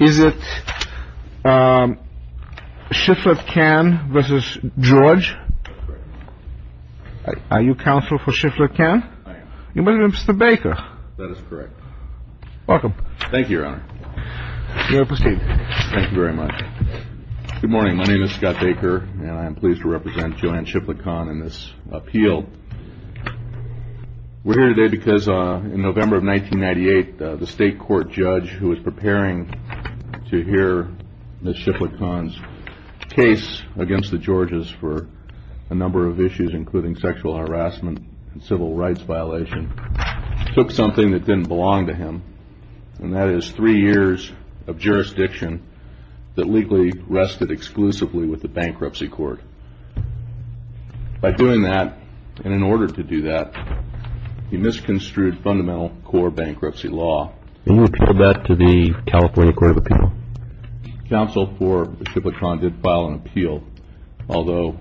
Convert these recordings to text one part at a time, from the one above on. Is it Shiflett-Kann v. George? Are you counsel for Shiflett-Kann? I am. You must be Mr. Baker. That is correct. Welcome. Thank you, Your Honor. You may proceed. Thank you very much. Good morning. My name is Scott Baker, and I am pleased to represent Joanne Shiflett-Kann in this appeal. We are here today because in November of 1998, the state court judge who was preparing to hear Ms. Shiflett-Kann's case against the Georges for a number of issues, including sexual harassment and civil rights violation, took something that didn't belong to him, and that is three years of jurisdiction that legally rested exclusively with the bankruptcy court. By doing that, and in order to do that, he misconstrued fundamental core bankruptcy law. And you appealed that to the California Court of Appeal? Counsel for Shiflett-Kann did file an appeal, although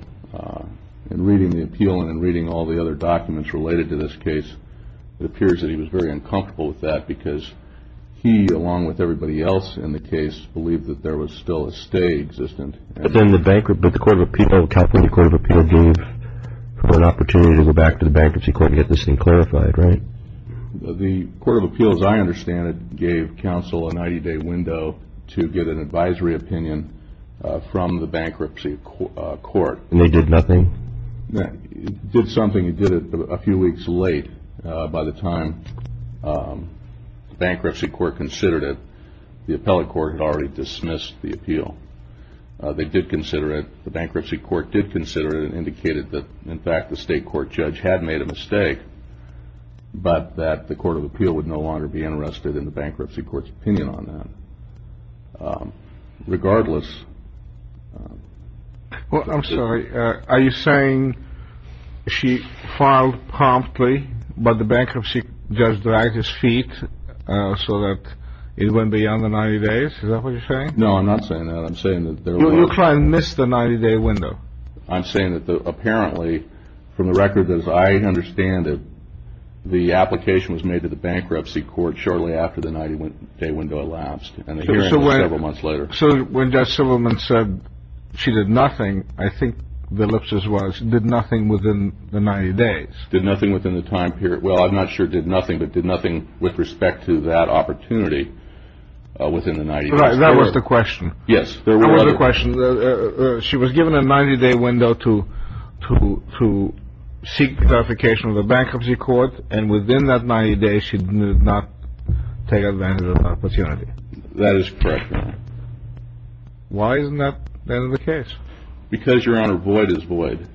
in reading the appeal and in reading all the other documents related to this case, it appears that he was very uncomfortable with that because he, along with everybody else in the case, believed that there was still a stay existent. But then the bankrupt, but the Court of Appeal, California Court of Appeal gave for an opportunity to go back to the bankruptcy court and get this thing clarified, right? The Court of Appeal, as I understand it, gave counsel a 90-day window to get an advisory opinion from the bankruptcy court. And they did nothing? He did something, he did it a few weeks late. By the time the bankruptcy court considered it, the appellate court had already dismissed the appeal. They did consider it, the bankruptcy court did consider it, and indicated that, in fact, the state court judge had made a mistake, but that the Court of Appeal would no longer be interested in the bankruptcy court's opinion on that. Regardless... Well, I'm sorry, are you saying she filed promptly, but the bankruptcy judge dragged his feet so that it went beyond the 90 days? Is that what you're saying? No, I'm not saying that. I'm saying that... You're trying to miss the 90-day window. I'm saying that apparently, from the record that I understand it, the application was made to the bankruptcy court shortly after the 90-day window elapsed, and the hearing was several months later. So when Judge Silberman said she did nothing, I think the ellipsis was, did nothing within the 90 days? Did nothing within the time period. Well, I'm not sure it did nothing, but did nothing with respect to that opportunity within the 90-day period. That was the question. Yes, there were other... That was the question. She was given a 90-day window to seek clarification of the bankruptcy court, and within that 90 days, she did not take advantage of the opportunity. That is correct, Your Honor. Why isn't that the end of the case? Because, Your Honor, void is void.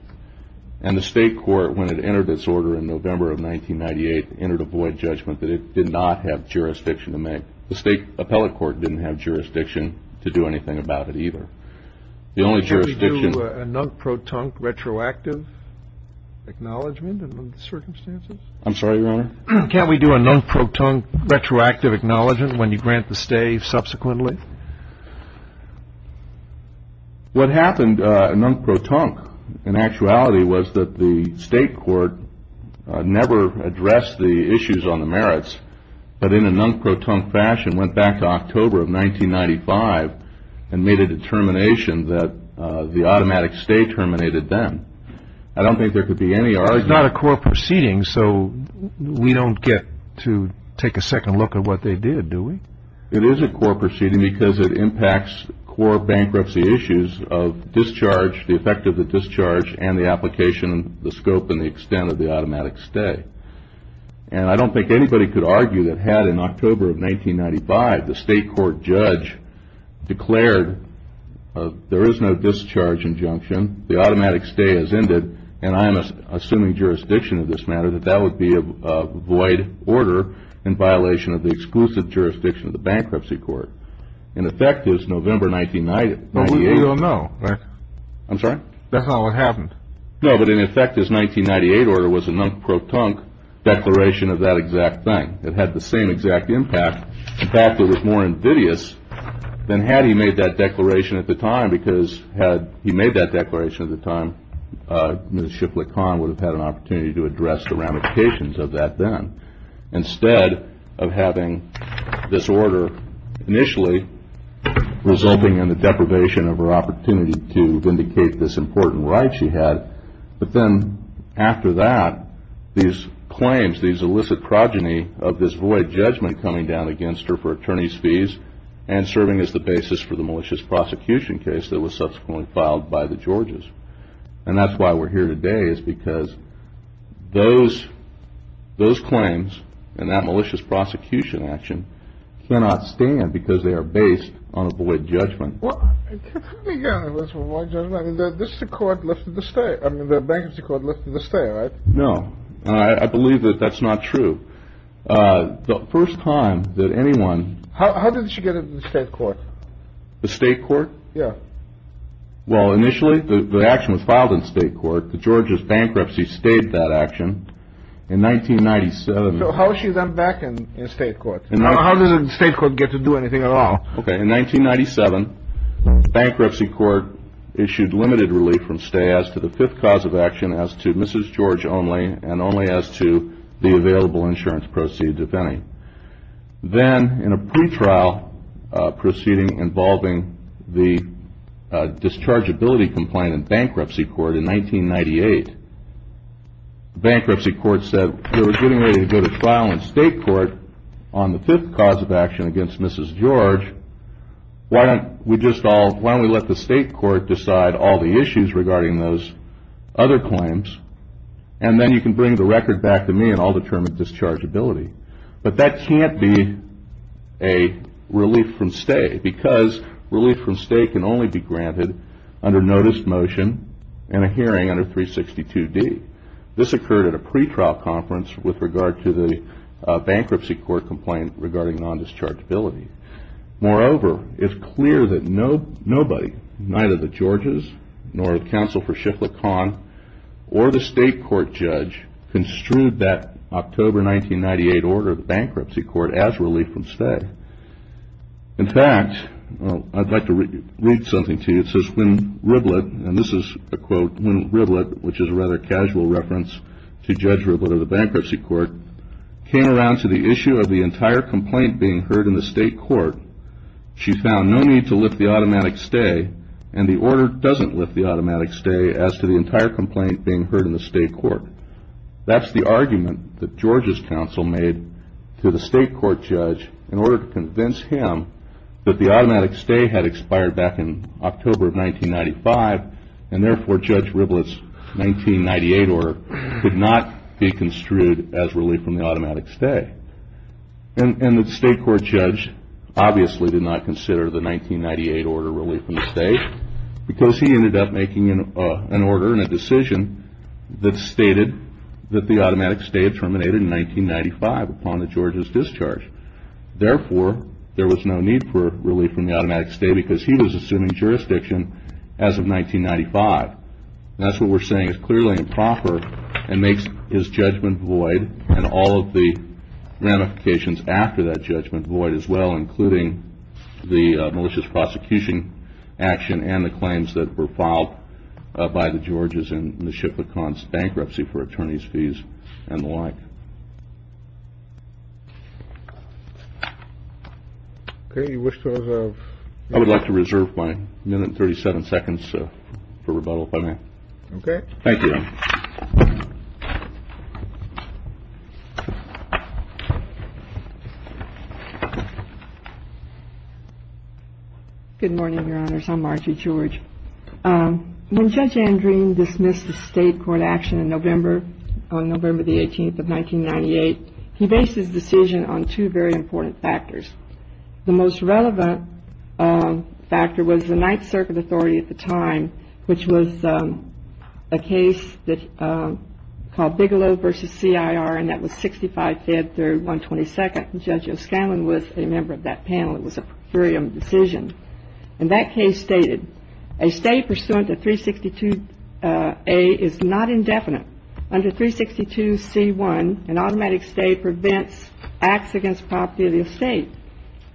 And the state court, when it entered its order in November of 1998, entered a void judgment that it did not have jurisdiction to make. The state appellate court didn't have jurisdiction to do anything about it either. The only jurisdiction... Can't we do a non-proton, retroactive acknowledgement in the circumstances? I'm sorry, Your Honor? Can't we do a non-proton, retroactive acknowledgement when you grant the stay subsequently? What happened non-proton, in actuality, was that the state court never addressed the issues on the merits, but in a non-proton fashion, went back to October of 1995, and made a determination that the automatic stay terminated then. I don't think there could be any... Well, it's not a core proceeding, so we don't get to take a second look at what they did, do we? It is a core proceeding because it impacts core bankruptcy issues of discharge, the effect of the discharge, and the application, the scope, and the extent of the automatic stay. And I don't think anybody could argue that had, in October of 1995, the state court judge declared there is no discharge injunction, the automatic stay has ended, and I'm assuming jurisdiction of this matter, that that would be a void order in violation of the exclusive jurisdiction of the bankruptcy court. In effect, it was November 1998... But we don't know, right? I'm sorry? That's not what happened. No, but in effect, his 1998 order was a non-proton declaration of that exact thing. It had the same exact impact, the fact that it was more invidious than had he made that declaration at the time, because had he made that declaration at the time, Ms. Shiplet Conn would have had an opportunity to address the ramifications of that then, instead of having this order initially resulting in the deprivation of her opportunity to vindicate this important right she had, but then after that, these claims, these illicit progeny of this void judgment coming down against her for attorney's fees and serving as the basis for the malicious prosecution case that was subsequently filed by the Georges. And that's why we're here today, is because those claims and that malicious prosecution action cannot stand, because they are based on a void judgment. Well, let's begin with void judgment, I mean, the bankruptcy court lifted the stay, right? No, and I believe that that's not true. The first time that anyone... How did she get into the state court? The state court? Yeah. Well, initially, the action was filed in state court. The Georges bankruptcy stayed that action. In 1997... So how is she then back in state court? How does the state court get to do anything at all? Okay, in 1997, bankruptcy court issued limited relief from stay as to the fifth cause of action as to Mrs. George only, and only as to the available insurance proceeds, if any. Then, in a pretrial proceeding involving the dischargeability complaint in bankruptcy court in 1998, bankruptcy court said, we're getting ready to go to trial in state court on the fifth cause of action against Mrs. George, why don't we just all, why don't we let the state court decide all the issues regarding those other claims, and then you can bring the record back to me and I'll determine dischargeability. But that can't be a relief from stay, because relief from stay can only be granted under notice motion and a hearing under 362D. This occurred at a pretrial conference with regard to the bankruptcy court complaint regarding non-dischargeability. Moreover, it's clear that nobody, neither the Georges, nor the counsel for Shiflett-Kahn, or the state court judge, construed that October 1998 order of the bankruptcy court as relief from stay. In fact, I'd like to read something to you, it says, when Riblett, and this is a quote, when Riblett, which is a rather casual reference to Judge Riblett of the bankruptcy court, came around to the issue of the entire complaint being heard in the state court, she found no need to lift the automatic stay, and the order doesn't lift the automatic stay as to the entire complaint being heard in the state court. That's the argument that Georges' counsel made to the state court judge in order to convince him that the automatic stay had expired back in October of 1995, and therefore Judge Riblett's 1998 order could not be construed as relief from the automatic stay. And the state court judge obviously did not consider the 1998 order relief from stay, because he ended up making an order and a decision that stated that the automatic stay had terminated in 1995 upon the Georges' discharge. Therefore, there was no need for relief from the automatic stay because he was assuming jurisdiction as of 1995, and that's what we're saying is clearly improper, and makes his judgment void, and all of the ramifications after that judgment void as well, including the malicious prosecution action and the claims that were filed by the Georges in the Schiff-Lacombe's bankruptcy for attorney's fees and the like. I would like to reserve my minute and thirty-seven seconds for rebuttal if I may. Okay. Thank you. Good morning, Your Honors. I'm Margie George. When Judge Andreen dismissed the state court action in November, on November the 18th of 1998, he based his decision on two very important factors. The most relevant factor was the Ninth Circuit Authority at the time, which was a case called Bigelow v. C.I.R., and that was 65-3122nd. Judge O'Scanlan was a member of that panel. It was a procurium decision. And that case stated, a stay pursuant to 362A is not indefinite. Under 362C1, an automatic stay prevents acts against property of the estate.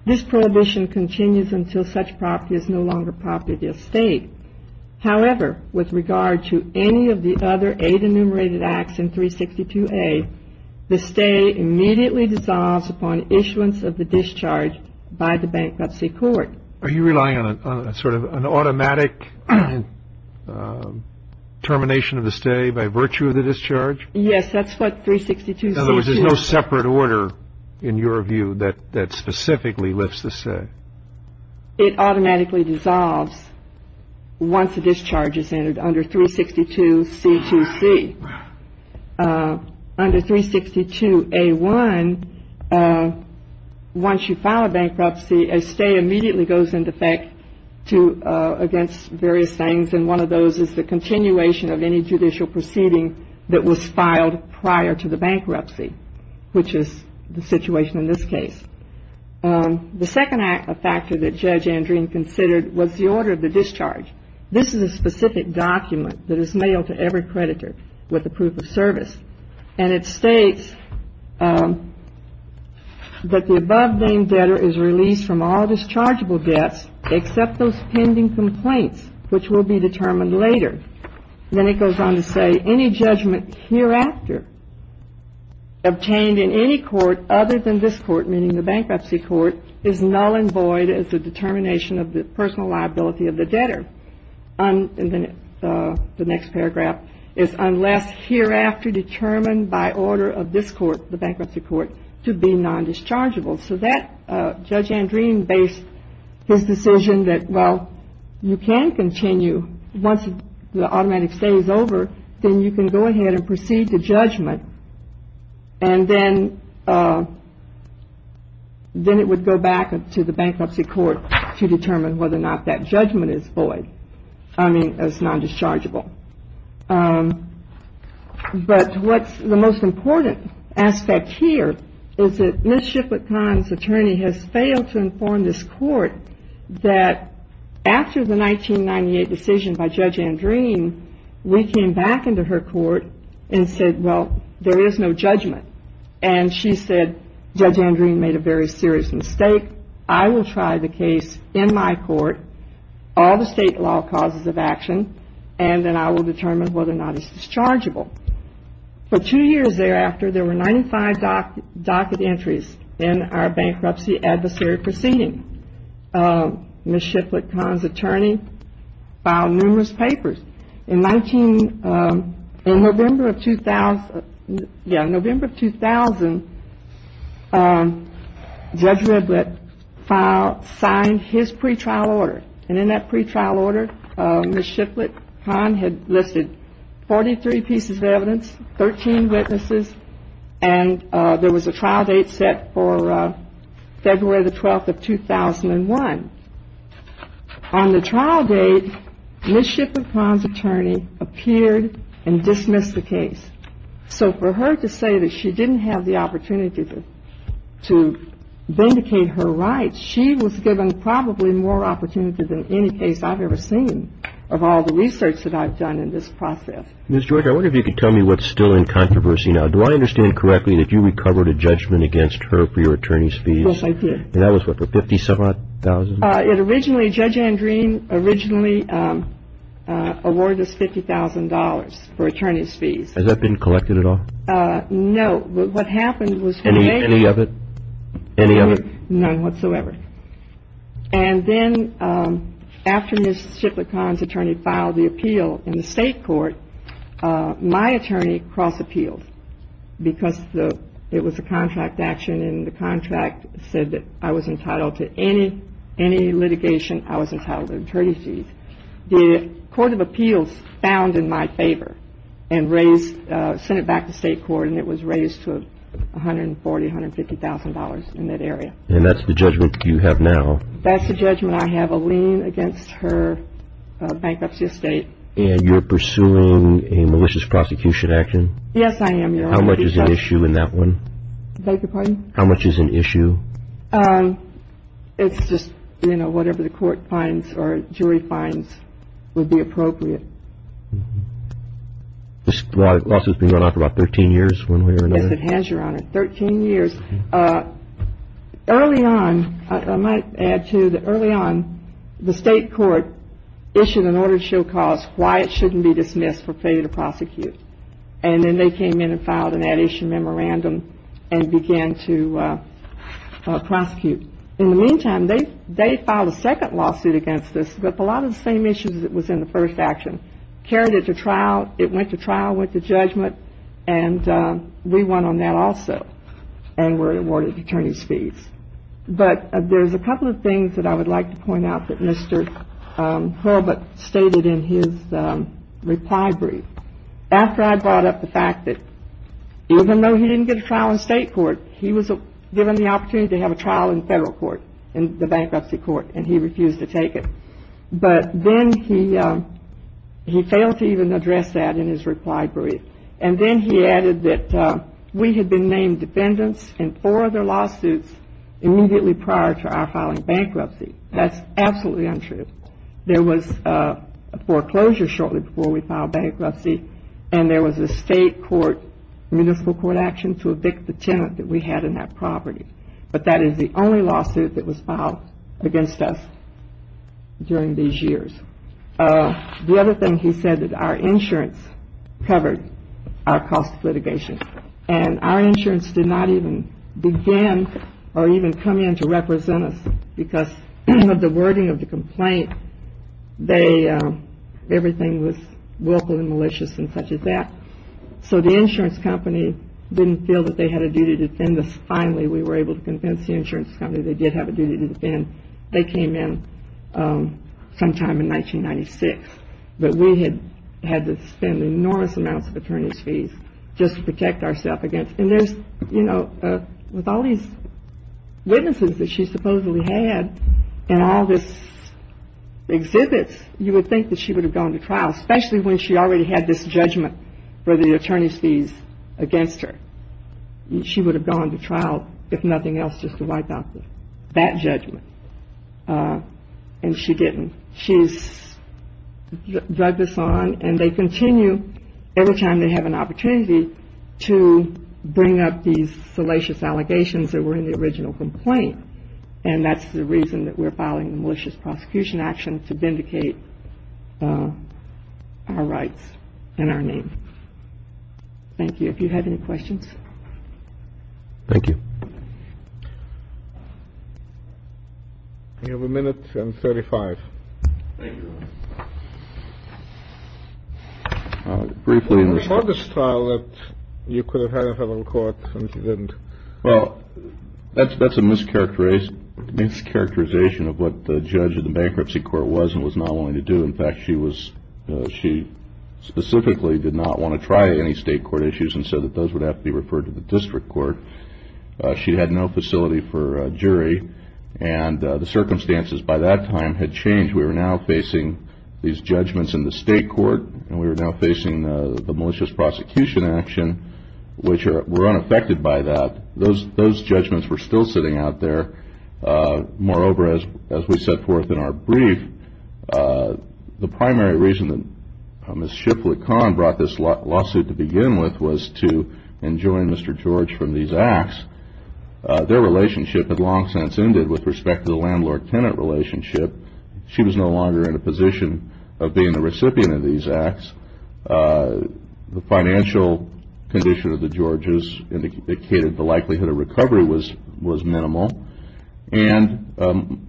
This prohibition continues until such property is no longer property of the estate. However, with regard to any of the other eight enumerated acts in 362A, the stay immediately dissolves upon issuance of the discharge by the bankruptcy court. Are you relying on sort of an automatic termination of the stay by virtue of the discharge? Yes, that's what 362C2... In other words, there's no separate order in your view that specifically lifts the stay? It automatically dissolves once the discharge is entered under 362C2C. Under 362A1, once you file a bankruptcy, a stay immediately goes into effect against various things. And one of those is the continuation of any judicial proceeding that was filed prior to the bankruptcy, which is the situation in this case. The second factor that Judge Andreen considered was the order of the discharge. This is a specific document that is mailed to every creditor with the proof of service. And it states that the above-named debtor is released from all dischargeable debts except those pending complaints, which will be determined later. Then it goes on to say any judgment hereafter obtained in any court other than this court, meaning the bankruptcy court, is null and void as a determination of the personal liability of the debtor. And then the next paragraph is unless hereafter determined by order of this court, the bankruptcy court, to be non-dischargeable. So that Judge Andreen based his decision that, well, you can continue once the automatic stay is over, then you can go ahead and proceed to judgment. And then it would go back to the bankruptcy court to determine whether or not that judgment is void, I mean is non-dischargeable. But what's the most important aspect here is that Ms. Shiflett-Kahn's attorney has failed to inform this court that after the 1998 decision by Judge Andreen, we came back into her court and said, well, there is no judgment. And she said, Judge Andreen made a very serious mistake. I will try the case in my court, all the state law causes of action, and then I will determine whether or not it's dischargeable. For two years thereafter, there were 95 docket entries in our bankruptcy adversary proceeding. Ms. Shiflett-Kahn's attorney filed numerous papers. In November of 2000, Judge Riblett signed his pretrial order. And in that pretrial order, Ms. Shiflett-Kahn had listed 43 pieces of evidence, 13 witnesses, and there was a trial date set for February the 12th of 2001. On the trial date, Ms. Shiflett-Kahn's attorney appeared and dismissed the case. So for her to say that she didn't have the opportunity to vindicate her rights, she was given probably more opportunity than any case I've ever seen of all the research that I've done in this process. Ms. Joyker, I wonder if you could tell me what's still in controversy now. Do I understand correctly that you recovered a judgment against her for your attorney's fees? Yes, I did. And that was what, for $57,000? It originally, Judge Andreen originally awarded us $50,000 for attorney's fees. Has that been collected at all? No. But what happened was she made it. Any of it? None whatsoever. And then after Ms. Shiflett-Kahn's attorney filed the appeal in the state court, my attorney cross-appealed because it was a contract action and the contract said that I was entitled to any litigation, I was entitled to attorney's fees. The court of appeals found in my favor and raised, sent it back to state court, and it was raised to $140,000, $150,000 in that area. And that's the judgment you have now? That's the judgment. I have a lien against her bankruptcy estate. And you're pursuing a malicious prosecution action? Yes, I am, Your Honor. How much is at issue in that one? Beg your pardon? How much is at issue? It's just, you know, whatever the court finds or jury finds would be appropriate. This lawsuit's been going on for about 13 years, one way or another? Yes, it has, Your Honor, 13 years. Early on, I might add, too, that early on the state court issued an order to show cause why it shouldn't be dismissed for failure to prosecute. And then they came in and filed an at-issue memorandum and began to prosecute. In the meantime, they filed a second lawsuit against this with a lot of the same issues that was in the first action, carried it to trial. It went to trial, went to judgment, and we won on that also and were awarded attorney's fees. But there's a couple of things that I would like to point out that Mr. Horvath stated in his reply brief. After I brought up the fact that even though he didn't get a trial in state court, he was given the opportunity to have a trial in federal court, in the bankruptcy court, and he refused to take it. But then he failed to even address that in his reply brief. And then he added that we had been named defendants in four other lawsuits immediately prior to our filing bankruptcy. That's absolutely untrue. There was a foreclosure shortly before we filed bankruptcy, and there was a state court, municipal court action to evict the tenant that we had in that property. But that is the only lawsuit that was filed against us during these years. The other thing he said that our insurance covered our cost of litigation. And our insurance did not even begin or even come in to represent us because of the wording of the complaint, everything was willful and malicious and such as that. So the insurance company didn't feel that they had a duty to defend us. Finally, we were able to convince the insurance company they did have a duty to defend. They came in sometime in 1996. But we had had to spend enormous amounts of attorney's fees just to protect ourself against. And there's, you know, with all these witnesses that she supposedly had and all this exhibits, you would think that she would have gone to trial, especially when she already had this judgment for the attorney's fees against her. She would have gone to trial, if nothing else, just to wipe out that judgment. And she didn't. She's drugged us on and they continue, every time they have an opportunity, to bring up these salacious allegations that were in the original complaint. And that's the reason that we're filing a malicious prosecution action to vindicate our rights and our name. Thank you. If you have any questions. Thank you. You have a minute and 35. Thank you. Briefly. On this trial that you could have had in federal court and you didn't. Well, that's a mischaracterization of what the judge of the bankruptcy court was and was not willing to do. In fact, she specifically did not want to try any state court issues and said that those would have to be referred to the district court. She had no facility for a jury. And the circumstances by that time had changed. We were now facing these judgments in the state court, and we were now facing the malicious prosecution action, which were unaffected by that. Those judgments were still sitting out there. Moreover, as we set forth in our brief, the primary reason that Ms. Shipley-Kahn brought this lawsuit to begin with was to enjoin Mr. George from these acts. Their relationship had long since ended with respect to the landlord-tenant relationship. She was no longer in a position of being the recipient of these acts. The financial condition of the Georges indicated the likelihood of recovery was minimal. And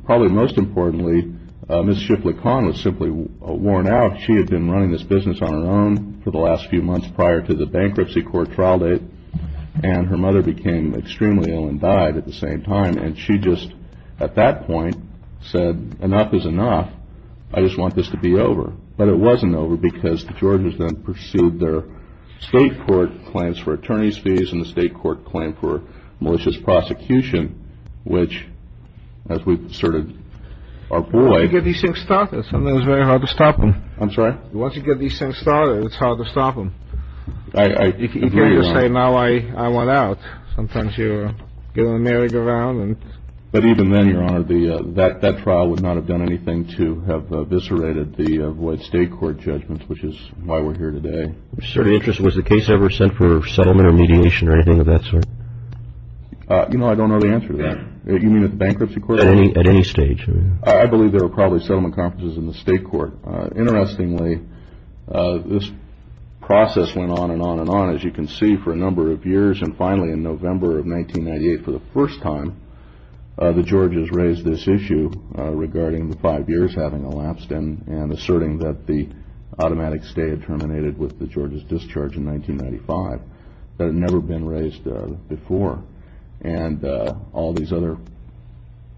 probably most importantly, Ms. Shipley-Kahn was simply worn out. She had been running this business on her own for the last few months prior to the bankruptcy court trial date, and her mother became extremely ill and died at the same time. And she just at that point said, enough is enough. I just want this to be over. But it wasn't over because the Georges then pursued their state court claims for attorney's fees and the state court claim for malicious prosecution, which, as we've asserted our ploy… Once you get these things started, it's very hard to stop them. I'm sorry? Once you get these things started, it's hard to stop them. I agree, Your Honor. You can't just say, now I want out. Sometimes you get on the merry-go-round and… But even then, Your Honor, that trial would not have done anything to have eviscerated the state court judgments, which is why we're here today. Was the case ever sent for settlement or mediation or anything of that sort? You know, I don't know the answer to that. You mean at the bankruptcy court? At any stage. I believe there were probably settlement conferences in the state court. Interestingly, this process went on and on and on, as you can see, for a number of years. And finally, in November of 1998, for the first time, the Georges raised this issue regarding the five years having elapsed and asserting that the automatic stay had terminated with the Georges' discharge in 1995. That had never been raised before. And all these other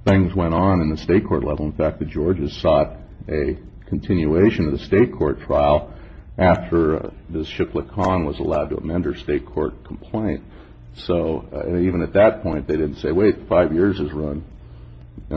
things went on in the state court level. In fact, the Georges sought a continuation of the state court trial after Ms. Shipley-Kahn was allowed to amend her state court complaint. So even at that point, they didn't say, wait, five years is run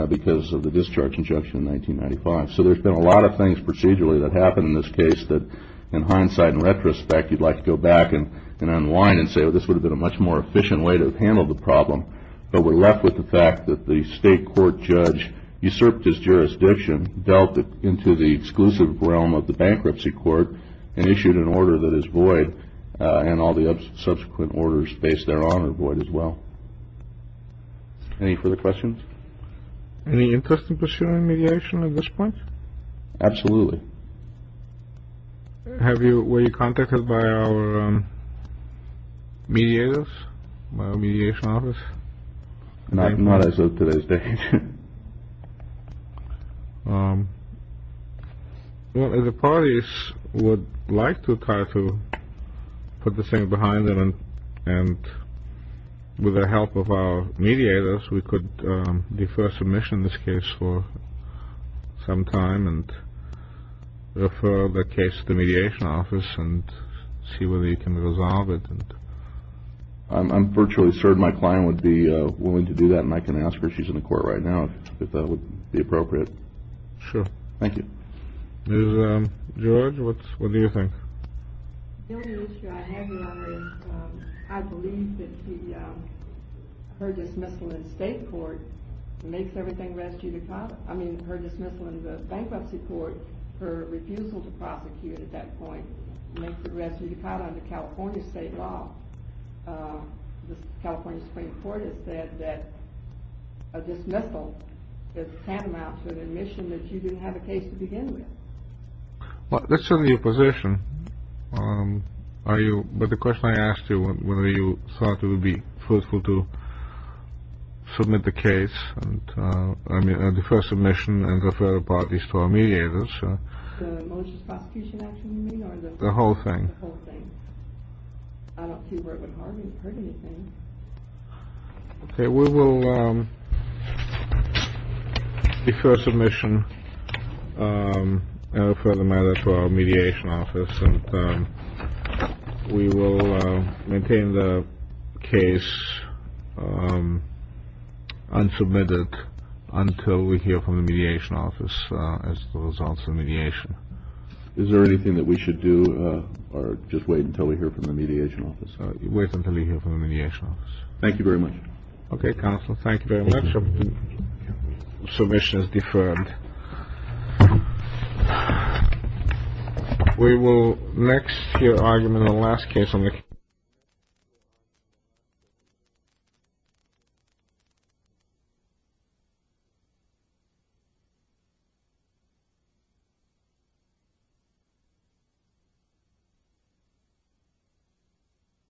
because of the discharge injunction in 1995. So there's been a lot of things procedurally that happened in this case that, in hindsight and retrospect, you'd like to go back and unwind and say, oh, this would have been a much more efficient way to have handled the problem. But we're left with the fact that the state court judge usurped his jurisdiction, dealt into the exclusive realm of the bankruptcy court, and issued an order that is void. And all the subsequent orders based thereon are void as well. Any further questions? Any interest in pursuing mediation at this point? Absolutely. Were you contacted by our mediators, by our mediation office? Not as of today's date. Well, the parties would like to try to put this thing behind them. And with the help of our mediators, we could defer submission in this case for some time and refer the case to the mediation office and see whether you can resolve it. I'm virtually certain my client would be willing to do that, and I can ask her. She's in the court right now, if that would be appropriate. Sure. Thank you. Ms. George, what do you think? The only issue I have, Your Honor, is I believe that her dismissal in the bankruptcy court, her refusal to prosecute at that point makes her res judicata under California state law. The California Supreme Court has said that a dismissal is tantamount to an admission that you didn't have a case to begin with. Well, that's certainly your position. But the question I asked you, whether you thought it would be fruitful to submit the case and defer submission and refer the parties to our mediators. The malicious prosecution action, you mean? The whole thing. The whole thing. I don't think you've heard anything. Okay. We will defer submission and refer the matter to our mediation office, and we will maintain the case unsubmitted until we hear from the mediation office as to the results of mediation. Is there anything that we should do or just wait until we hear from the mediation office? Wait until we hear from the mediation office. Thank you very much. Okay, counsel. Thank you very much. Submission is deferred. We will next hear argument on the last case on the case.